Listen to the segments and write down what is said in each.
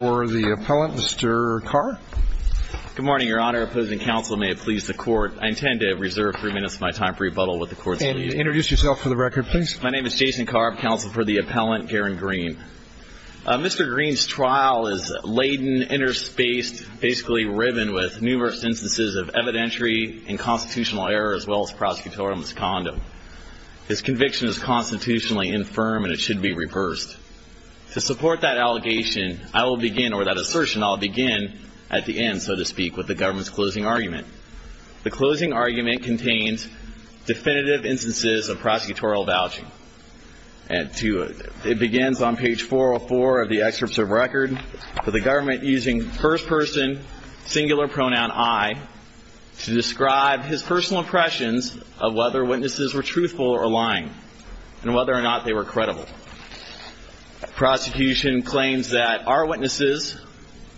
for the appellant Mr. Carr. Good morning your honor opposing counsel may it please the court I intend to reserve three minutes of my time for rebuttal with the court. Introduce yourself for the record please. My name is Jason Carr counsel for the appellant Garen Green. Mr. Green's trial is laden interspaced basically riven with numerous instances of evidentiary and constitutional error as well as prosecutorial misconduct. His conviction is constitutionally infirm and it should be I'll begin at the end so to speak with the government's closing argument. The closing argument contains definitive instances of prosecutorial vouching. It begins on page 404 of the excerpts of record for the government using first person singular pronoun I to describe his personal impressions of whether witnesses were truthful or lying and whether or not they were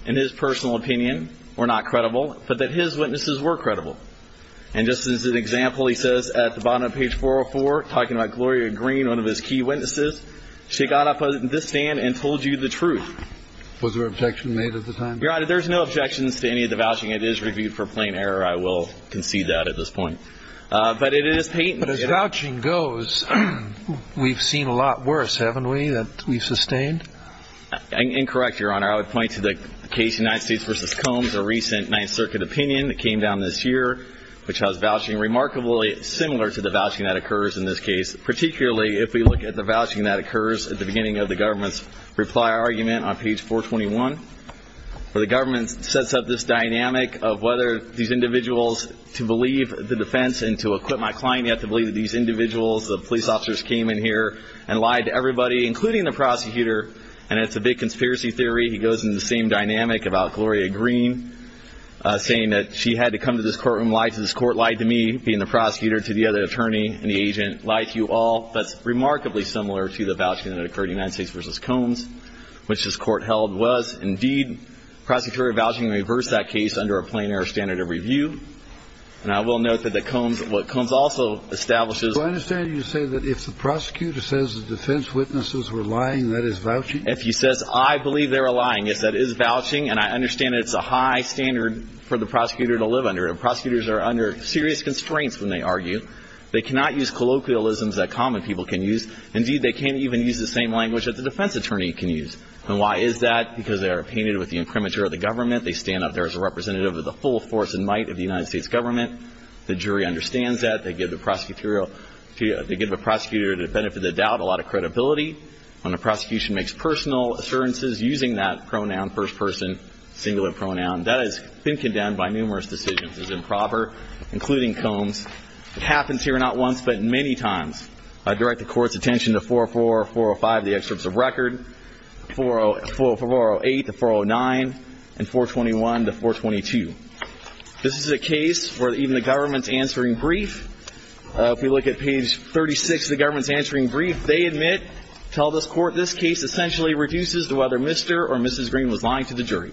in his personal opinion or not credible but that his witnesses were credible and just as an example he says at the bottom of page 404 talking about Gloria Green one of his key witnesses she got up in this stand and told you the truth. Was there objection made at the time? Your honor there's no objections to any of the vouching it is reviewed for plain error I will concede that at this point but it is patent. But as vouching goes we've seen a lot worse haven't we that we've sustained? Incorrect your honor I would point to the case United States versus Combs a recent ninth circuit opinion that came down this year which has vouching remarkably similar to the vouching that occurs in this case particularly if we look at the vouching that occurs at the beginning of the government's reply argument on page 421 where the government sets up this dynamic of whether these individuals to believe the defense and to equip my client to believe that these individuals the police officers came in here and lied to everybody including the prosecutor and it's a big conspiracy theory he goes in the same dynamic about Gloria Green saying that she had to come to this courtroom lie to this court lied to me being the prosecutor to the other attorney and the agent lied to you all that's remarkably similar to the vouching that occurred United States versus Combs which this court held was indeed prosecutorial vouching reversed that case under a plain error standard of review and I will note that the Combs what establishes I understand you say that if the prosecutor says the defense witnesses were lying that is vouching if he says I believe they were lying yes that is vouching and I understand it's a high standard for the prosecutor to live under prosecutors are under serious constraints when they argue they cannot use colloquialisms that common people can use indeed they can't even use the same language that the defense attorney can use and why is that because they are painted with the incriminator of the government they stand up there as a representative of the full force and of the United States government the jury understands that they give the prosecutorial to give a prosecutor to benefit the doubt a lot of credibility when the prosecution makes personal assurances using that pronoun first person singular pronoun that has been condemned by numerous decisions as improper including Combs it happens here not once but many times I direct the court's attention to 4-4-4-5 the excerpts of record 4-4-4-8 to 4-9 and 4-21 to 4-22 this is a case where even the government's answering brief if we look at page 36 the government's answering brief they admit tell this court this case essentially reduces to whether Mr. or Mrs. Green was lying to the jury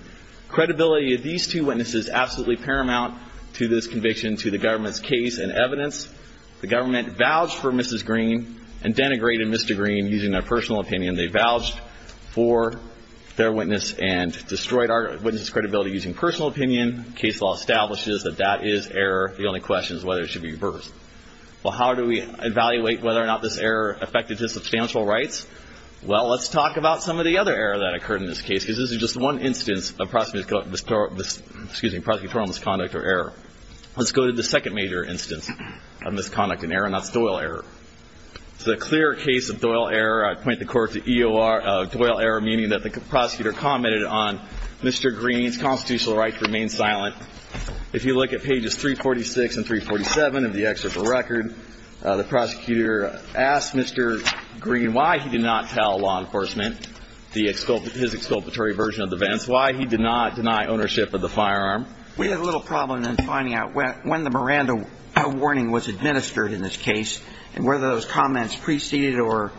credibility of these two witnesses absolutely paramount to this conviction to the government's case and evidence the government vouched for Mrs. Green and denigrated Mr. Green using their personal opinion they vouched for their witness and case law establishes that that is error the only question is whether it should be reversed well how do we evaluate whether or not this error affected his substantial rights well let's talk about some of the other error that occurred in this case because this is just one instance of prosecutorial misconduct or error let's go to the second major instance of misconduct and error and that's Doyle error it's a clear case of Doyle error I point the court to EOR Doyle error meaning that the prosecutor commented on Mr. Green's constitutional right to remain silent if you look at pages 346 and 347 of the excerpt for record the prosecutor asked Mr. Green why he did not tell law enforcement the exculp his exculpatory version of the events why he did not deny ownership of the firearm we had a little problem in finding out when the Miranda warning was administered in this case and whether those comments preceded or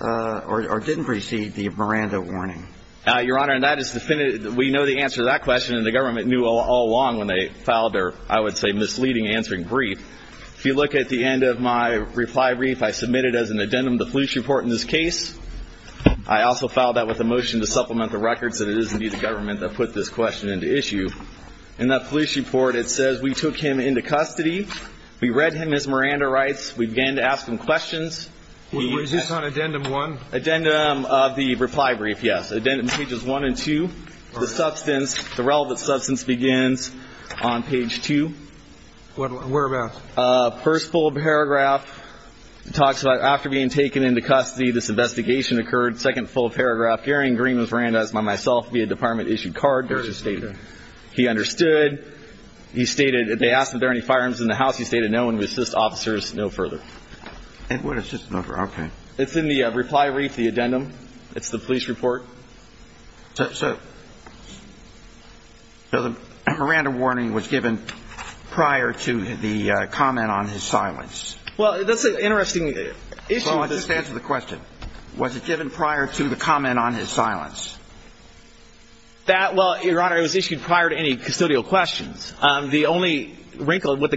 or didn't precede the Miranda warning uh your honor and that is definitive we know the answer to that question and the government knew all along when they filed their I would say misleading answering brief if you look at the end of my reply brief I submitted as an addendum the police report in this case I also filed that with a motion to supplement the records that it is indeed the government that put this question into issue in that police report it says we took him into custody we read him as Miranda rights we on addendum one addendum of the reply brief yes addendum pages one and two the substance the relevant substance begins on page two what whereabouts uh first full paragraph talks about after being taken into custody this investigation occurred second full paragraph Gary and Green was Miranda's by myself via department issued card there's a statement he understood he stated they asked if there are any firearms in the house he stated no one would assist officers no further and what is this number okay it's in the reply wreath the addendum it's the police report so so the Miranda warning was given prior to the comment on his silence well that's an interesting issue let's just answer the question was it given prior to the comment on his silence that well your honor it was issued prior to any custodial questions um the only wrinkle what the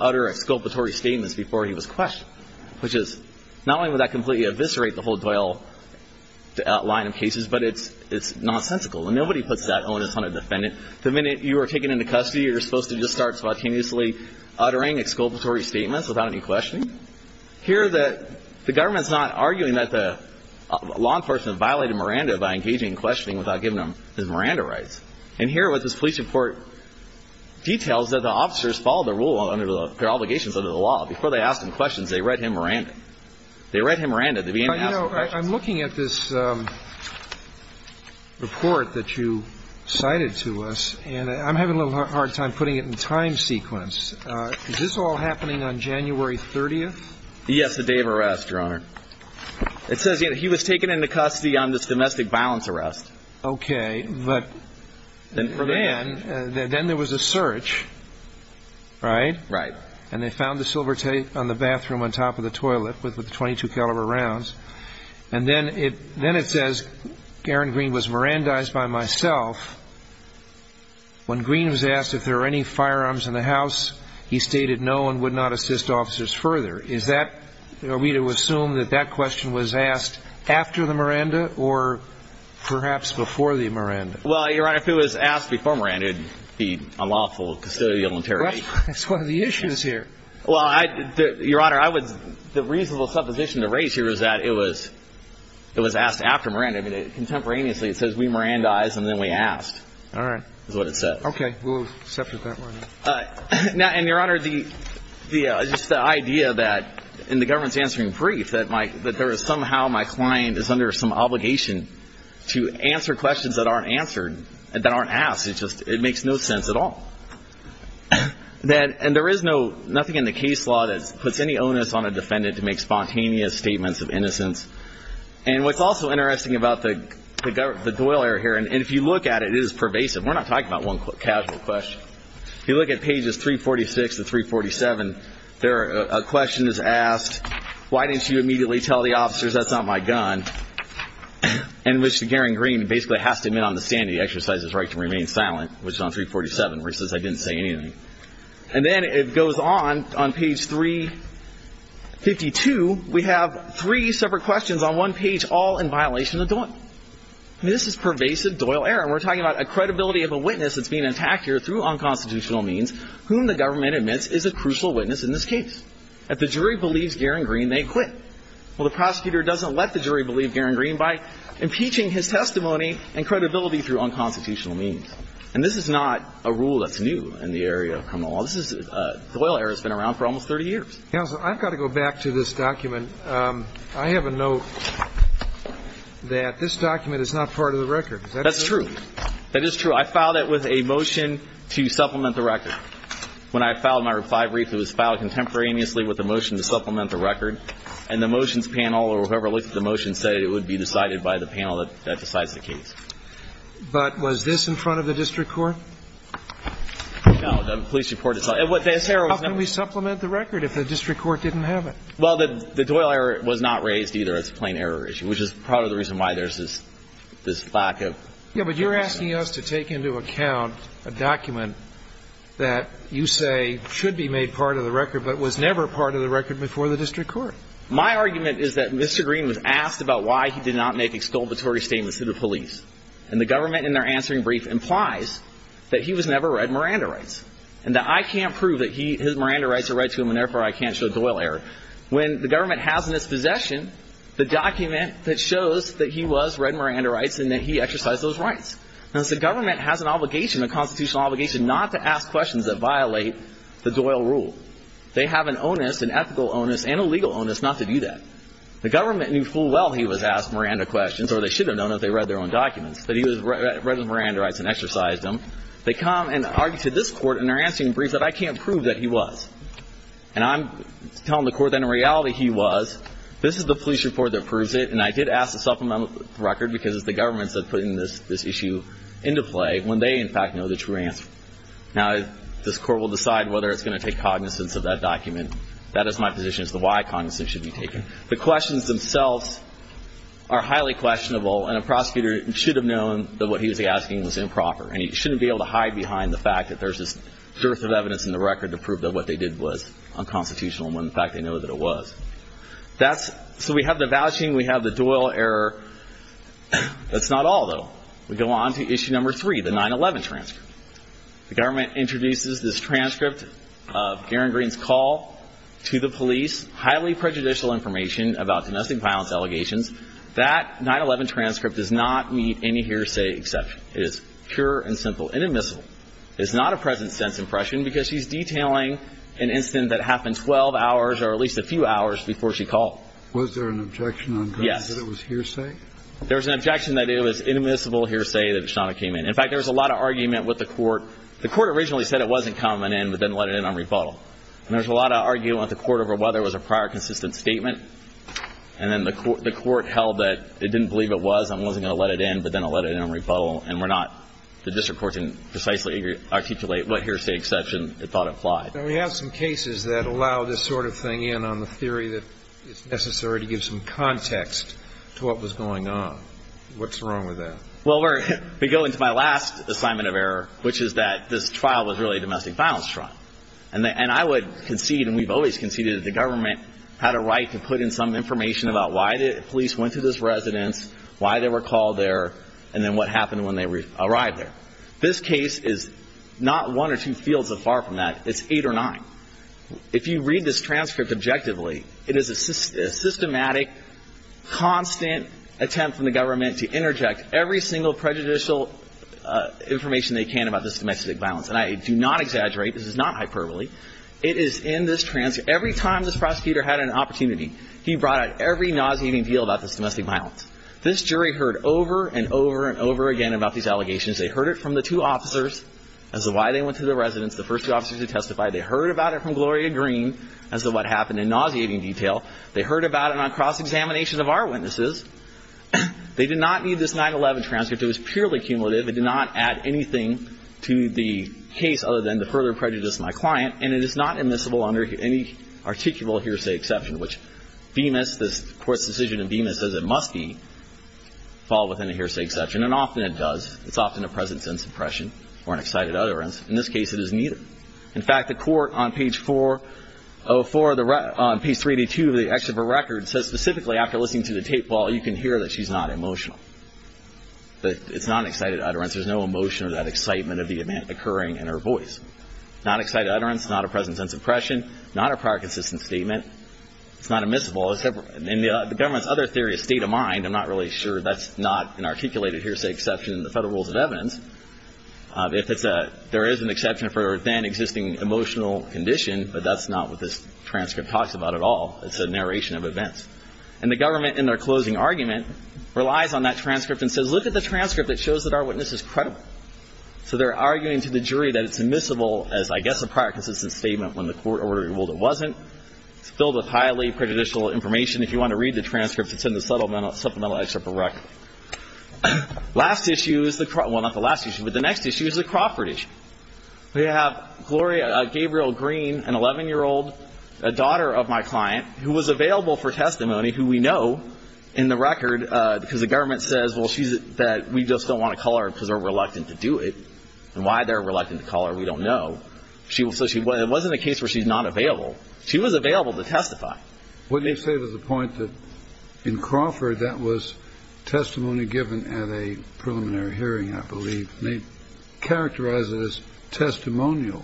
utter exculpatory statements before he was questioned which is not only would that completely eviscerate the whole doyle to outline of cases but it's it's nonsensical and nobody puts that on us on a defendant the minute you were taken into custody you're supposed to just start spontaneously uttering exculpatory statements without any questioning here that the government's not arguing that the law enforcement violated Miranda by engaging in questioning without giving his Miranda rights and here with this police report details that the officers followed the rule under the their obligations under the law before they asked him questions they read him Miranda they read him Miranda they began you know I'm looking at this um report that you cited to us and I'm having a little hard time putting it in time sequence uh is this all happening on January 30th yes the day of arrest your honor it says you know he was taken into custody on this domestic violence arrest okay but then then there was a search right right and they found the silver tape on the bathroom on top of the toilet with the 22 caliber rounds and then it then it says garen green was mirandized by myself when green was asked if there are any firearms in the house he stated no and would not assist officers further is that are we to assume that that question was asked after the Miranda or perhaps before the Miranda well your honor if it was asked before Miranda it'd be a lawful custodial interrogation that's one of the issues here well I your honor I would the reasonable supposition to raise here is that it was it was asked after Miranda I mean contemporaneously it says we mirandized and then we asked all right is what it says okay we'll accept it that way all right now and your honor the the just the idea that in the government's answering brief that my that there is somehow my client is under some obligation to answer questions that aren't answered that aren't asked it just it makes no sense at all that and there is no nothing in the case law that puts any onus on a defendant to make spontaneous statements of innocence and what's also interesting about the the government the doyler here and if you look at it is pervasive we're talking about one quick casual question if you look at pages 346 and 347 there are a question is asked why didn't you immediately tell the officers that's not my gun and which the garen green basically has to admit on the stand the exercise is right to remain silent which is on 347 where it says I didn't say anything and then it goes on on page 352 we have three separate questions on one page all in violation of doyle this is pervasive doyle error we're talking about a credibility of a witness that's being attacked here through unconstitutional means whom the government admits is a crucial witness in this case if the jury believes garen green they quit well the prosecutor doesn't let the jury believe garen green by impeaching his testimony and credibility through unconstitutional means and this is not a rule that's new in the area of criminal law this is uh doyle error has been around for almost 30 years council i've got to go back to this document um i have a note that this document is not part of the record that's true that is true i filed it with a motion to supplement the record when i filed my five brief it was filed contemporaneously with the motion to supplement the record and the motions panel or whoever looked at the motion said it would be decided by the panel that decides the case but was this in front of the district court no the police report is what this error we supplement the record if the district court didn't have it well the doyle error was not raised either it's a plain error issue which part of the reason why there's this this lack of yeah but you're asking us to take into account a document that you say should be made part of the record but was never part of the record before the district court my argument is that mr green was asked about why he did not make exculpatory statements to the police and the government in their answering brief implies that he was never read miranda rights and that i can't prove that he his miranda rights are right to him and therefore i can't show doyle error when the government has in its possession the document that shows that he was read miranda rights and that he exercised those rights now the government has an obligation a constitutional obligation not to ask questions that violate the doyle rule they have an onus an ethical onus and a legal onus not to do that the government knew full well he was asked miranda questions or they should have known that they read their own documents that he was read the miranda rights and exercised them they come and argue to this court and they're answering brief i can't prove that he was and i'm telling the court that in reality he was this is the police report that proves it and i did ask the supplemental record because it's the governments that put in this this issue into play when they in fact know the true answer now this court will decide whether it's going to take cognizance of that document that is my position as to why cognizance should be taken the questions themselves are highly questionable and a prosecutor should have known that what he was asking was improper and he shouldn't be able to hide behind the fact that there's this dearth of evidence in the record to prove that what they did was unconstitutional when in fact they know that it was that's so we have the vouching we have the doyle error that's not all though we go on to issue number three the 9-11 transcript the government introduces this transcript of garen green's call to the police highly prejudicial information about domestic violence allegations that 9-11 transcript does not meet any hearsay it is pure and simple inadmissible it's not a present sense impression because she's detailing an incident that happened 12 hours or at least a few hours before she called was there an objection on yes that it was hearsay there was an objection that it was inadmissible hearsay that shana came in in fact there was a lot of argument with the court the court originally said it wasn't coming in but then let it in on rebuttal and there's a lot of arguing at the court over whether it was a prior consistent statement and then the court the court held that it didn't believe it was i'm and we're not the district court can precisely articulate what hearsay exception it thought applied now we have some cases that allow this sort of thing in on the theory that it's necessary to give some context to what was going on what's wrong with that well we're we go into my last assignment of error which is that this trial was really a domestic violence trial and i would concede and we've always conceded that the government had a right to put in some why they were called there and then what happened when they arrived there this case is not one or two fields of far from that it's eight or nine if you read this transcript objectively it is a systematic constant attempt from the government to interject every single prejudicial information they can about this domestic violence and i do not exaggerate this is not hyperbole it is in this trans every time this prosecutor had an opportunity he brought out every nauseating deal about this domestic violence this jury heard over and over and over again about these allegations they heard it from the two officers as to why they went to the residents the first officers who testified they heard about it from gloria green as to what happened in nauseating detail they heard about it on cross-examination of our witnesses they did not need this 9-11 transcript it was purely cumulative it did not add anything to the case other than to further prejudice my client and it is not admissible under any articulable hearsay exception which bemis this court's decision in bema says it must be followed within a hearsay exception and often it does it's often a present sense impression or an excited utterance in this case it isn't either in fact the court on page 404 the on page 382 of the exit of a record says specifically after listening to the tape well you can hear that she's not emotional but it's not an excited utterance there's no emotion or that excitement of the event occurring in her voice not excited utterance not present sense impression not a prior consistent statement it's not admissible except in the government's other theory of state of mind i'm not really sure that's not an articulated hearsay exception in the federal rules of evidence if it's a there is an exception for then existing emotional condition but that's not what this transcript talks about at all it's a narration of events and the government in their closing argument relies on that transcript and says look at the transcript that shows that our witness is credible so they're arguing to the jury that it's admissible as i guess a prior consistent statement when the court ordered it wasn't it's filled with highly prejudicial information if you want to read the transcripts it's in the supplemental supplemental excerpt of record last issue is the well not the last issue but the next issue is the Crawford issue we have Gloria uh Gabriel Green an 11 year old a daughter of my client who was available for testimony who we know in the record uh because the government says well she's that we just don't want to call her because they're reluctant to do it and why they're reluctant to do it because we don't know she was so she wasn't a case where she's not available she was available to testify what they say was the point that in Crawford that was testimony given at a preliminary hearing i believe they characterize it as testimonial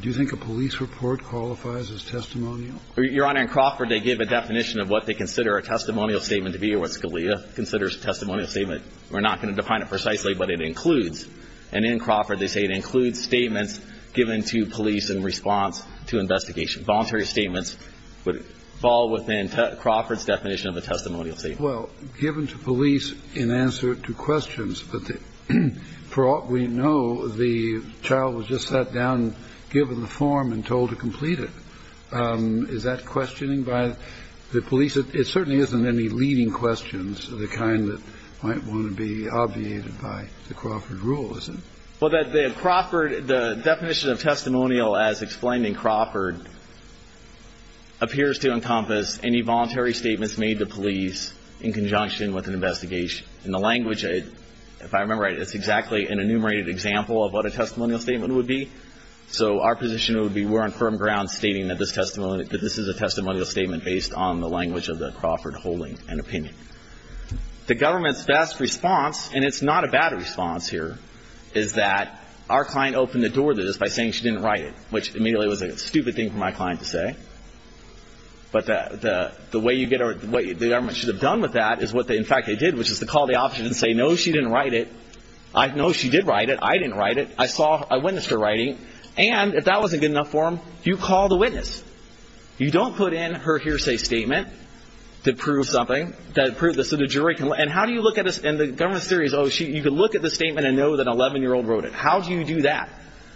do you think a police report qualifies as testimonial your honor in Crawford they give a definition of what they consider a testimonial statement to be or what Scalia considers a testimonial statement we're not going to define it precisely but it includes and in Crawford they say it includes statements given to police in response to investigation voluntary statements would fall within Crawford's definition of a testimonial statement well given to police in answer to questions but for all we know the child was just sat down given the form and told to complete it um is that questioning by the police it certainly isn't any leading questions the kind that might want to be obviated by the Crawford rule is it well that the Crawford the definition of testimonial as explained in Crawford appears to encompass any voluntary statements made to police in conjunction with an investigation in the language if i remember it's exactly an enumerated example of what a testimonial statement would be so our position would be we're on firm ground stating that this testimony that this is a testimonial statement based on the language of the Crawford holding and opinion the government's best response and it's not a bad response here is that our client opened the door to this by saying she didn't write it which immediately was a stupid thing for my client to say but the the way you get or the way the government should have done with that is what they in fact they did which is to call the officer and say no she didn't write it i know she did write it i didn't write it i saw i witnessed her writing and if that wasn't good enough for him you call the witness you don't put in her hearsay statement to prove something that proves this so the jury can and how do you look at this and the government series oh she you could look at the statement and know that 11 year old wrote it how do you do that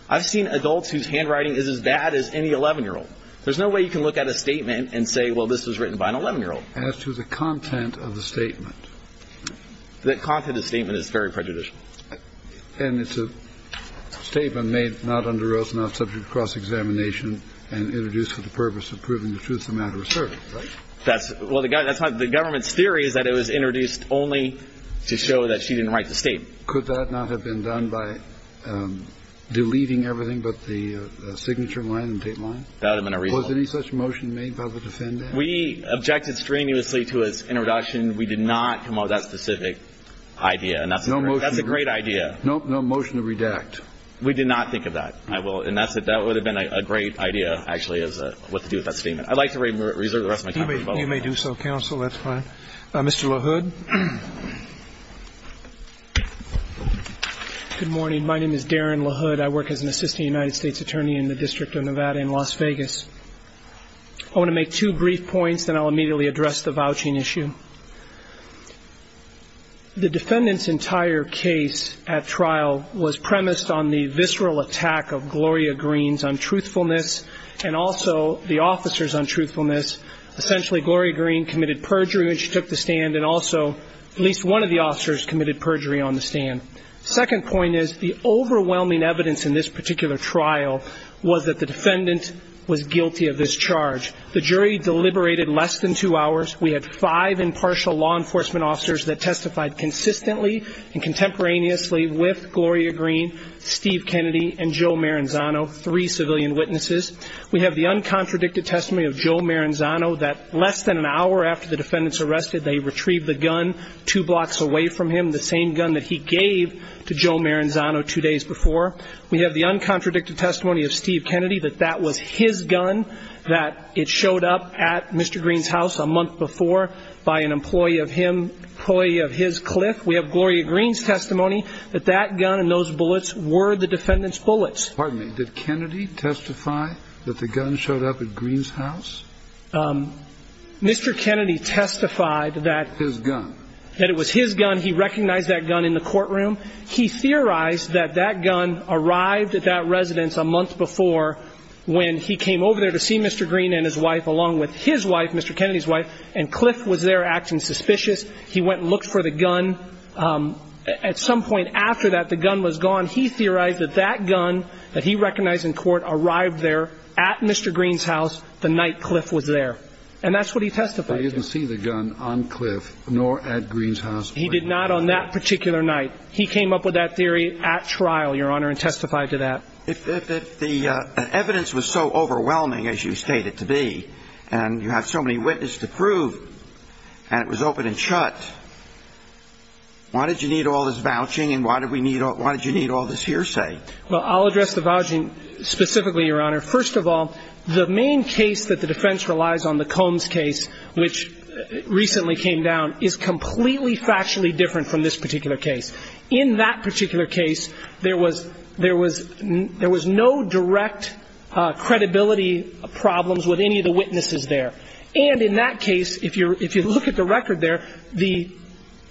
i've seen adults whose handwriting is as bad as any 11 year old there's no way you can look at a statement and say well this was written by an 11 year old as to the content of the statement the content of the statement is very prejudicial and it's a statement made not under oath not subject cross-examination and introduced for the purpose of proving the truth the matter of service right that's well the guy that's not the government's theory is that it was introduced only to show that she didn't write the statement could that not have been done by um deleting everything but the signature line and tape line that would have been a reason was any such motion made by the defendant we objected strenuously to his introduction we did not come up with that specific idea and that's no that's a great idea no no motion to redact we did not think of that i will and that's it that would have been a great idea actually as a what to do with that statement i'd like to reserve the rest of my company you may do so counsel that's fine uh mr la hood good morning my name is darren la hood i work as an assistant united states attorney in the district of nevada and las vegas i want to make two brief points then i'll immediately address the vouching issue the defendant's entire case at trial was premised on the visceral attack of gloria green's on truthfulness and also the officers on truthfulness essentially gloria green committed perjury when she took the stand and also at least one of the officers committed perjury on the stand second point is the overwhelming evidence in this particular trial was that the defendant was guilty of this charge the jury deliberated less than two hours we had five impartial law enforcement officers that testified consistently and contemporaneously with gloria green steve and joe maranzano three civilian witnesses we have the uncontradicted testimony of joe maranzano that less than an hour after the defendants arrested they retrieved the gun two blocks away from him the same gun that he gave to joe maranzano two days before we have the uncontradicted testimony of steve kennedy that that was his gun that it showed up at mr green's house a month before by an employee of him probably of his cliff we have gloria green's testimony that that gun and those bullets were the defendant's bullets pardon me did kennedy testify that the gun showed up at green's house um mr kennedy testified that his gun that it was his gun he recognized that gun in the courtroom he theorized that that gun arrived at that residence a month before when he came over there to see mr green and his wife along with his wife mr kennedy's wife and cliff was there acting suspicious he went and looked for the gun um at some point after that the gun was gone he theorized that that gun that he recognized in court arrived there at mr green's house the night cliff was there and that's what he testified he didn't see the gun on cliff nor at green's house he did not on that particular night he came up with that theory at trial your honor and testified to that if the evidence was so overwhelming as you shot why did you need all this vouching and why did we need why did you need all this hearsay well i'll address the vouching specifically your honor first of all the main case that the defense relies on the combs case which recently came down is completely factually different from this particular case in that particular case there was there was there was no direct uh credibility problems with any of the witnesses there and in that case if you're if you look at the record there the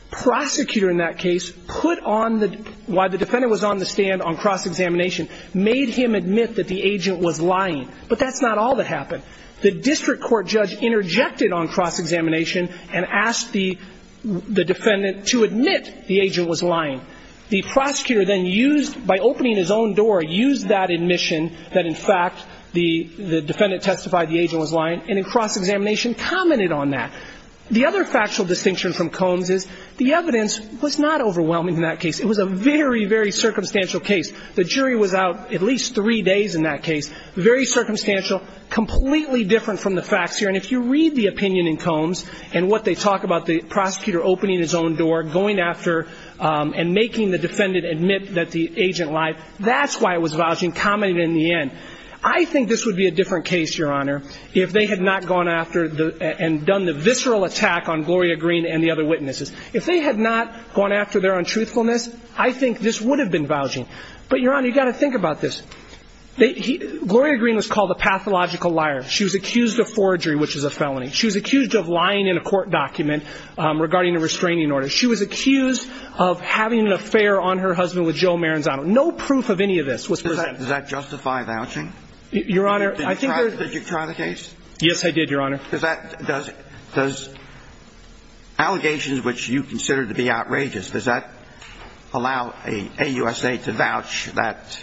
prosecutor in that case put on the why the defendant was on the stand on cross examination made him admit that the agent was lying but that's not all that happened the district court judge interjected on cross examination and asked the the defendant to admit the agent was lying the defendant testified the agent was lying and in cross examination commented on that the other factual distinction from combs is the evidence was not overwhelming in that case it was a very very circumstantial case the jury was out at least three days in that case very circumstantial completely different from the facts here and if you read the opinion in combs and what they talk about the prosecutor opening his own door going after um and making the defendant admit that the if they had not gone after the and done the visceral attack on gloria green and the other witnesses if they had not gone after their untruthfulness i think this would have been vouching but your honor you got to think about this they he gloria green was called a pathological liar she was accused of forgery which is a felony she was accused of lying in a court document um regarding a restraining order she was accused of having an affair on her husband with joe did you try the case yes i did your honor does that does does allegations which you consider to be outrageous does that allow a usa to vouch that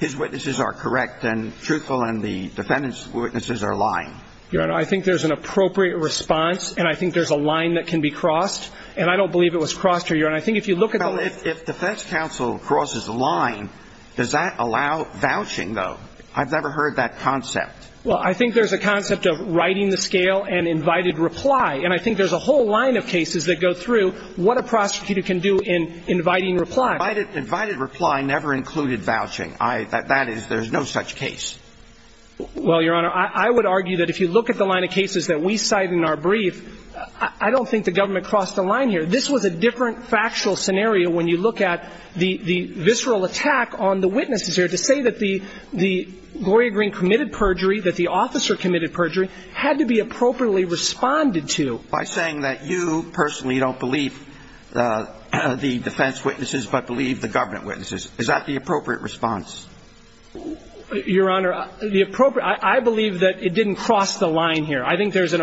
his witnesses are correct and truthful and the defendants witnesses are lying your honor i think there's an appropriate response and i think there's a line that can be crossed and i don't believe it was crossed here and i think if you look at if defense counsel crosses the line does that allow vouching though i've never heard that concept well i think there's a concept of writing the scale and invited reply and i think there's a whole line of cases that go through what a prosecutor can do in inviting reply invited invited reply never included vouching i that that is there's no such case well your honor i i would argue that if you look at the line of cases that we cite in our brief i don't think the government crossed the line here this was a different factual scenario when you look at the the visceral attack on the witnesses here to say that the the gloria green committed perjury that the officer committed perjury had to be appropriately responded to by saying that you personally don't believe the defense witnesses but believe the government witnesses is that the appropriate response your honor the appropriate i believe that it didn't cross the line here i think there's an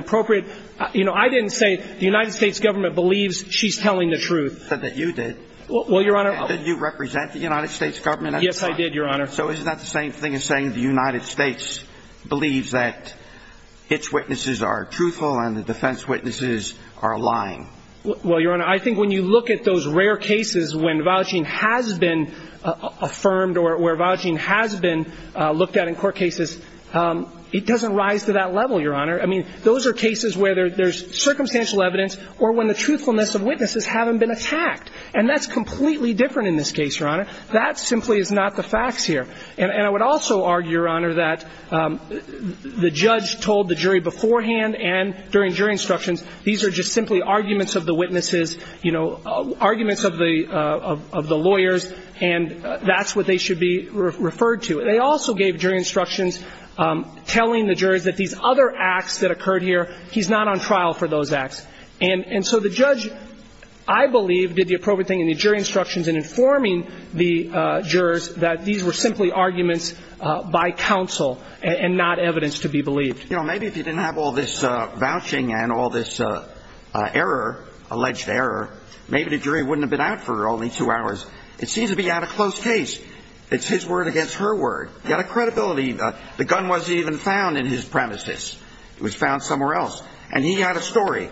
you know i didn't say the united states government believes she's telling the truth said that you did well your honor did you represent the united states government yes i did your honor so is that the same thing as saying the united states believes that its witnesses are truthful and the defense witnesses are lying well your honor i think when you look at those rare cases when vouching has been affirmed or where vouching has been uh looked at in court cases um it doesn't rise to that level your honor i mean those are cases where there's circumstantial evidence or when the truthfulness of witnesses haven't been attacked and that's completely different in this case your honor that simply is not the facts here and i would also argue your honor that the judge told the jury beforehand and during jury instructions these are just simply arguments of the witnesses you know arguments of the uh of the lawyers and that's what they should be referred to they also gave jury instructions um telling the jurors that these other acts that occurred here he's not on trial for those acts and and so the judge i believe did the appropriate thing in the jury instructions in informing the uh jurors that these were simply arguments uh by counsel and not evidence to be believed you know maybe if you didn't have all this uh vouching and all this uh uh error alleged error maybe the jury wouldn't have been out for only two hours it seems to be out of close case it's his word against her word he had a credibility the gun wasn't even found in his premises it was found somewhere else and he had a story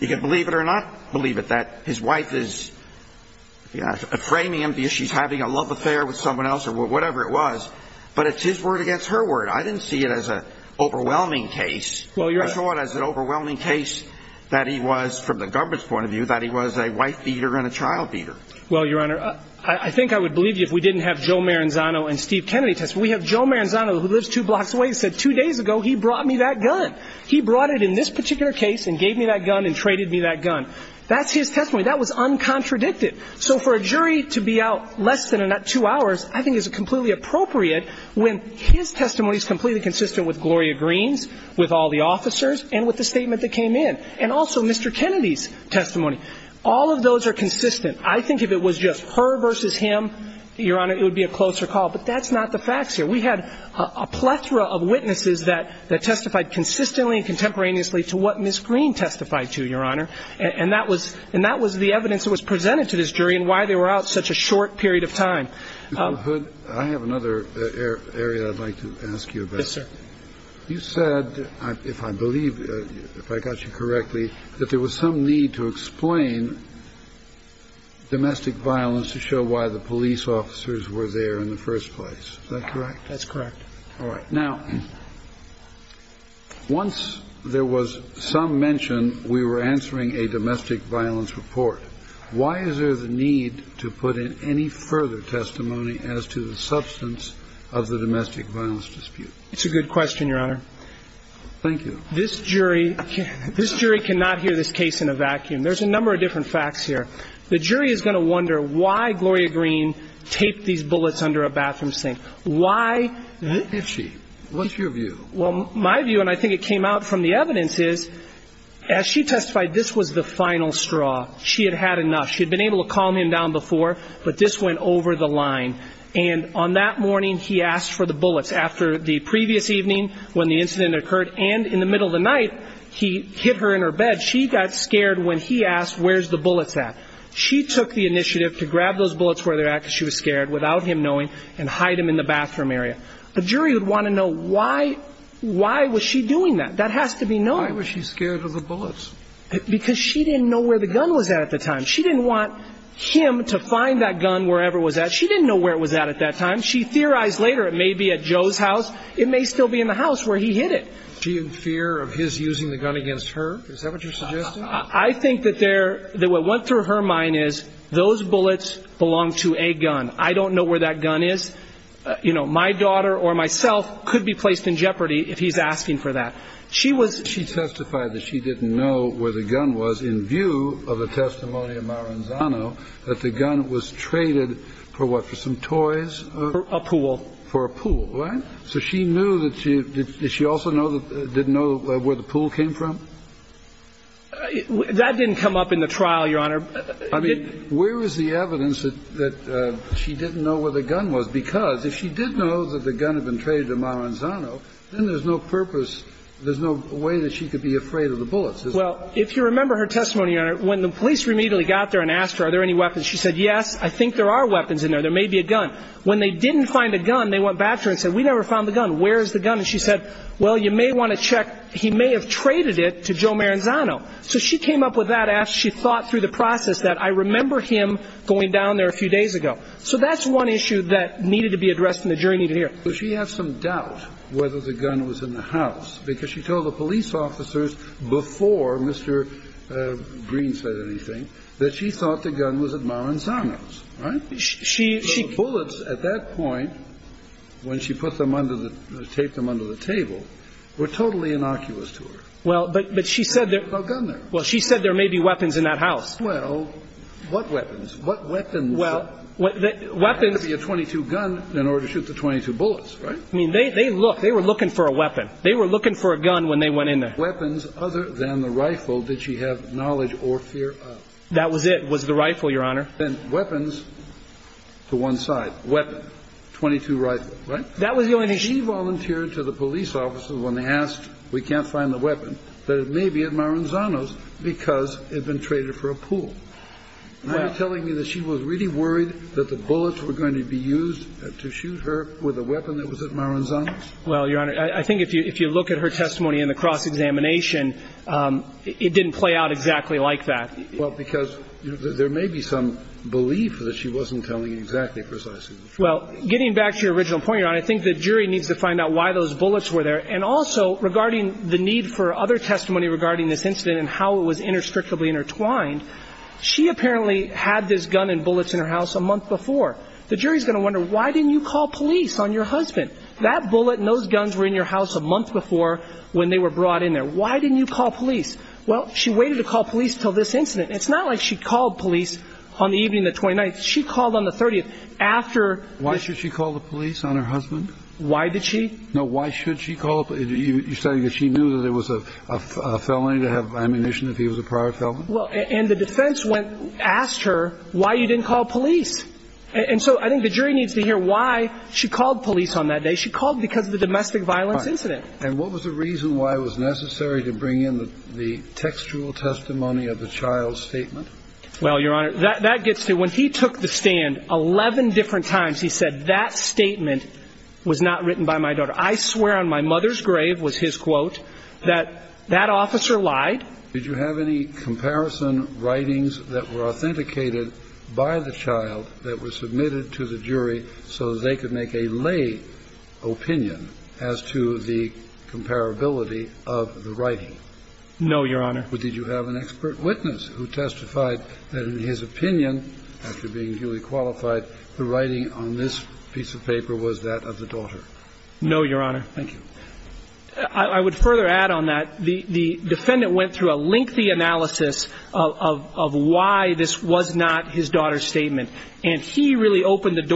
you can believe it or not believe it that his wife is you know framing him the issue she's having a love affair with someone else or whatever it was but it's his word against her word i didn't see it as a overwhelming case well you're sure as an overwhelming case that he was from the theater and a trial theater well your honor i think i would believe you if we didn't have joe maranzano and steve kennedy test we have joe maranzano who lives two blocks away he said two days ago he brought me that gun he brought it in this particular case and gave me that gun and traded me that gun that's his testimony that was uncontradicted so for a jury to be out less than or not two hours i think is completely appropriate when his testimony is completely consistent with gloria greens with all the officers and with the statement that came in and also mr kennedy's all of those are consistent i think if it was just her versus him your honor it would be a closer call but that's not the facts here we had a plethora of witnesses that that testified consistently and contemporaneously to what miss green testified to your honor and that was and that was the evidence that was presented to this jury and why they were out such a short period of time i have another area i'd like to ask you about sir you said i if i believe if i got you correctly that there was some need to explain domestic violence to show why the police officers were there in the first place is that correct that's correct all right now once there was some mention we were answering a domestic violence report why is there the need to put in any further testimony as to the substance of the domestic violence dispute it's a good question your honor thank you this jury this jury cannot hear this case in a vacuum there's a number of different facts here the jury is going to wonder why gloria green taped these bullets under a bathroom sink why did she what's your view well my view and i think it came out from the evidence is as she testified this was the final straw she had had enough she'd been able to calm him down before but this went over the line and on that morning he asked for the bullets after the previous evening when the incident occurred and in the middle of the night he hit her in her bed she got scared when he asked where's the bullets at she took the initiative to grab those bullets where they're at because she was scared without him knowing and hide him in the bathroom area the jury would want to know why why was she doing that that has to be known why was she scared of the bullets because she didn't know where the gun was at the time she didn't want him to find that gun wherever it was at she didn't know where it was at at that time she theorized later it may be at where he hit it she in fear of his using the gun against her is that what you're suggesting i think that there that what went through her mind is those bullets belong to a gun i don't know where that gun is you know my daughter or myself could be placed in jeopardy if he's asking for that she was she testified that she didn't know where the gun was in view of a testimony of maranzano that the gun was traded for what for some toys for a pool for a pool right so she knew that she did she also know that didn't know where the pool came from that didn't come up in the trial your honor i mean where is the evidence that that she didn't know where the gun was because if she did know that the gun had been traded to maranzano then there's no purpose there's no way that she could be afraid of the bullets well if you remember her testimony on it when the police immediately got there and asked her are there any weapons she said yes i think there are weapons in there there may be a gun when they didn't find a gun they went back to her and said we never found the gun where is the gun and she said well you may want to check he may have traded it to joe maranzano so she came up with that after she thought through the process that i remember him going down there a few days ago so that's one issue that needed to be addressed in the journey to here so she has some doubt whether the gun was in the house because she told the police officers before mr green said anything that she thought the gun was at maranzano's right she she bullets at that point when she put them under the tape them under the table were totally innocuous to her well but but she said there's no gun there well she said there may be weapons in that house well what weapons what weapons well what weapons be a 22 gun in order to shoot the 22 bullets right i mean they they look they were looking for a weapon they were looking for a gun when they went in there weapons other than the rifle did she have knowledge or fear of that was it was a rifle your honor then weapons to one side weapon 22 rifle right that was the only she volunteered to the police officers when they asked we can't find the weapon that it may be at maranzano's because it had been traded for a pool you're telling me that she was really worried that the bullets were going to be used to shoot her with a weapon that was at maranzano's well your honor i think if you if you look at her testimony in the cross-examination um it didn't play out exactly like that well because there may be some belief that she wasn't telling exactly precisely well getting back to your original point your honor i think the jury needs to find out why those bullets were there and also regarding the need for other testimony regarding this incident and how it was interstrictly intertwined she apparently had this gun and bullets in her house a month before the jury's going to wonder why didn't you call police on your husband that bullet and those guns were in your house a month before when they were brought in there why didn't you call police till this incident it's not like she called police on the evening the 29th she called on the 30th after why should she call the police on her husband why did she know why should she call you're saying that she knew that it was a a felony to have ammunition if he was a prior felon well and the defense went asked her why you didn't call police and so i think the jury needs to hear why she called police on that day she called because of the domestic violence incident and what was the reason why it was necessary to bring in the textual testimony of the child's statement well your honor that gets to when he took the stand 11 different times he said that statement was not written by my daughter i swear on my mother's grave was his quote that that officer lied did you have any comparison writings that were authenticated by the child that was comparability of the writing no your honor but did you have an expert witness who testified that in his opinion after being duly qualified the writing on this piece of paper was that of the daughter no your honor thank you i would further add on that the the defendant went through a lengthy analysis of of why this was not his daughter's statement and he really opened the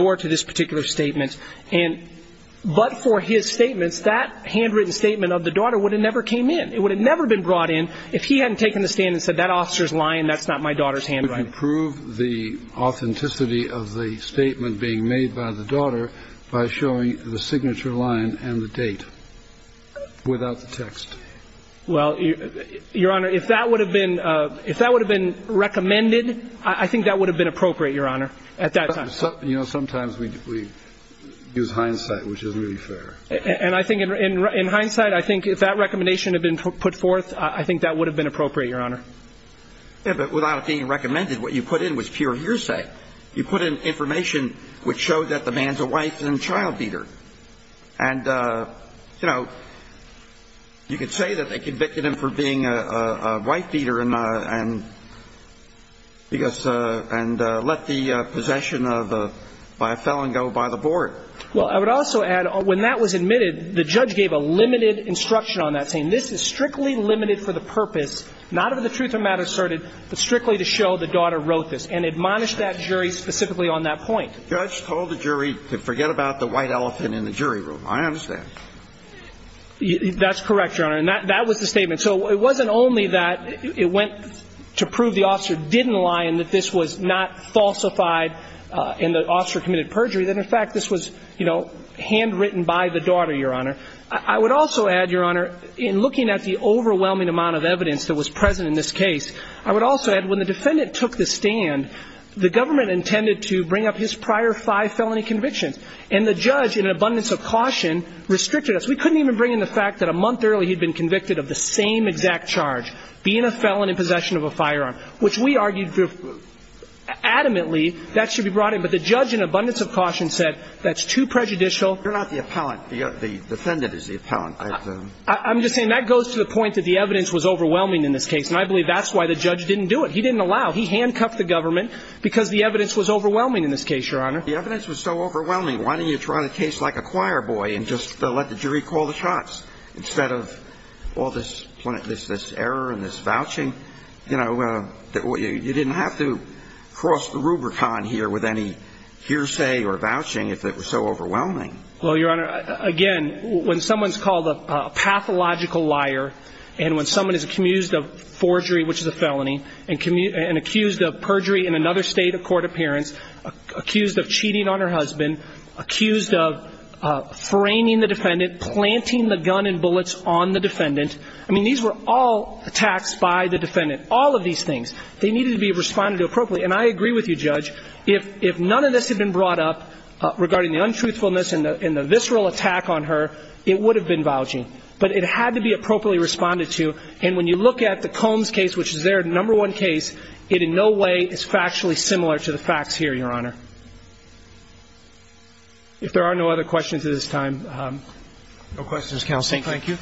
that handwritten statement of the daughter would have never came in it would have never been brought in if he hadn't taken the stand and said that officer's lying that's not my daughter's handwriting prove the authenticity of the statement being made by the daughter by showing the signature line and the date without the text well your honor if that would have been uh if that would have been recommended i think that would have been appropriate your honor at that time you know sometimes we we use hindsight which isn't really fair and i think in in hindsight i think if that recommendation had been put forth i think that would have been appropriate your honor yeah but without it being recommended what you put in was pure hearsay you put in information which showed that the man's a wife and child beater and uh you know you could say that they convicted him for being a white beater and uh and because uh and uh let the uh possession of a by a felon go by the board well i would also add when that was admitted the judge gave a limited instruction on that saying this is strictly limited for the purpose not of the truth of matter asserted but strictly to show the daughter wrote this and admonished that jury specifically on that point judge told the jury to forget about the white elephant in the jury room i understand that's correct your that was the statement so it wasn't only that it went to prove the officer didn't lie and that this was not falsified uh and the officer committed perjury that in fact this was you know handwritten by the daughter your honor i would also add your honor in looking at the overwhelming amount of evidence that was present in this case i would also add when the defendant took the stand the government intended to bring up his prior five felony convictions and the judge in an abundance of caution restricted us we couldn't even bring in the fact that a month early he'd been convicted of the same exact charge being a felon in possession of a firearm which we argued adamantly that should be brought in but the judge in abundance of caution said that's too prejudicial you're not the appellant the defendant is the appellant i'm just saying that goes to the point that the evidence was overwhelming in this case and i believe that's why the judge didn't do it he didn't allow he handcuffed the government because the evidence was overwhelming in this let the jury call the shots instead of all this this error and this vouching you know you didn't have to cross the rubric on here with any hearsay or vouching if it was so overwhelming well your honor again when someone's called a pathological liar and when someone is accused of forgery which is a felony and accused of perjury in another state of court appearance accused of cheating on her husband accused of framing the defendant planting the gun and bullets on the defendant i mean these were all attacks by the defendant all of these things they needed to be responded to appropriately and i agree with you judge if if none of this had been brought up regarding the untruthfulness and the visceral attack on her it would have been vouching but it had to be appropriately responded to and when you look at the combs case which is your honor if there are no other questions at this time um no questions counsel thank you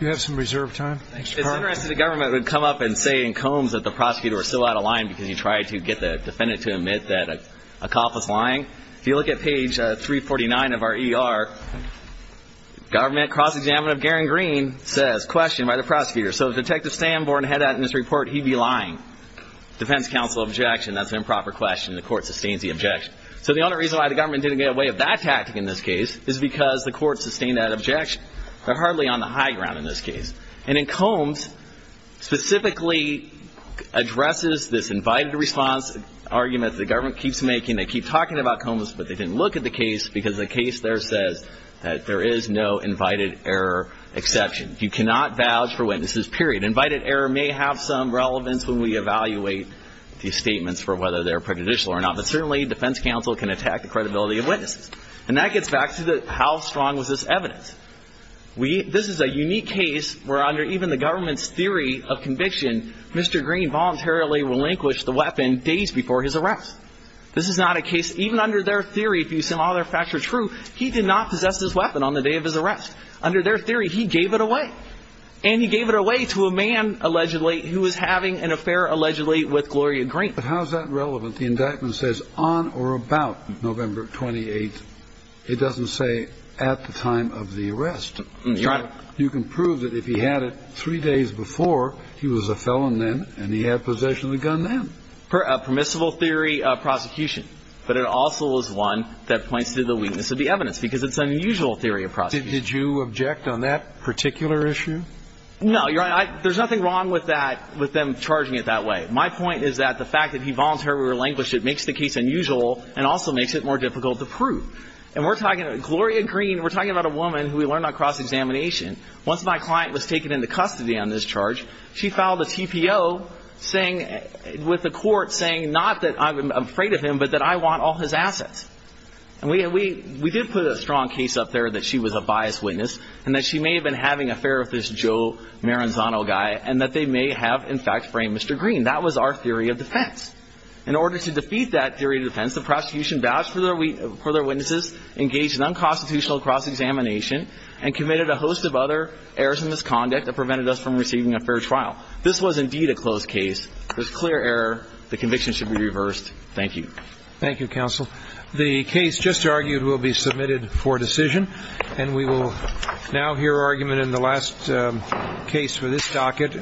you have some reserved time thanks for the government would come up and say in combs that the prosecutor was still out of line because he tried to get the defendant to admit that a cop was lying if you look at page 349 of our er government cross-examination of garen green says questioned by the prosecutor so detective stanborn had that in this report he'd be lying defense counsel objection that's an improper question the court sustains the objection so the only reason why the government didn't get away of that tactic in this case is because the court sustained that objection but hardly on the high ground in this case and in combs specifically addresses this invited response argument the government keeps making they keep talking about combs but they didn't look at the case because the case there says that there is no invited error exception you cannot vouch for witnesses period invited error may have some relevance when we evaluate these statements for whether they're prejudicial or not but certainly defense counsel can attack the credibility of witnesses and that gets back to the how strong was this evidence we this is a unique case where under even the government's theory of conviction mr green voluntarily relinquished the weapon days before his arrest this is not a case even under their theory if you see all their facts are true he did not possess this weapon on the day of his arrest under their theory he gave it away and he gave it away to a who is having an affair allegedly with gloria green but how is that relevant the indictment says on or about november 28th it doesn't say at the time of the arrest you can prove that if he had it three days before he was a felon then and he had possession of the gun then per a permissible theory of prosecution but it also is one that points to the weakness of the evidence because it's unusual theory of prosecution did you object on that particular issue no you're right there's nothing wrong with that with them charging it that way my point is that the fact that he voluntarily relinquished it makes the case unusual and also makes it more difficult to prove and we're talking about gloria green we're talking about a woman who we learned on cross-examination once my client was taken into custody on this charge she filed a tpo saying with the court saying not that i'm afraid of him but that i want all his assets and we we did put a strong case up there that she was a biased witness and that she may have been having affair with this joe maranzano guy and that they may have in fact framed mr green that was our theory of defense in order to defeat that theory of defense the prosecution vouched for their for their witnesses engaged in unconstitutional cross-examination and committed a host of other errors and misconduct that prevented us from receiving a fair trial this was indeed a closed case there's clear error the conviction should be reversed thank you thank you counsel the case just argued will be submitted for decision and we will now hear argument in the last case for this docket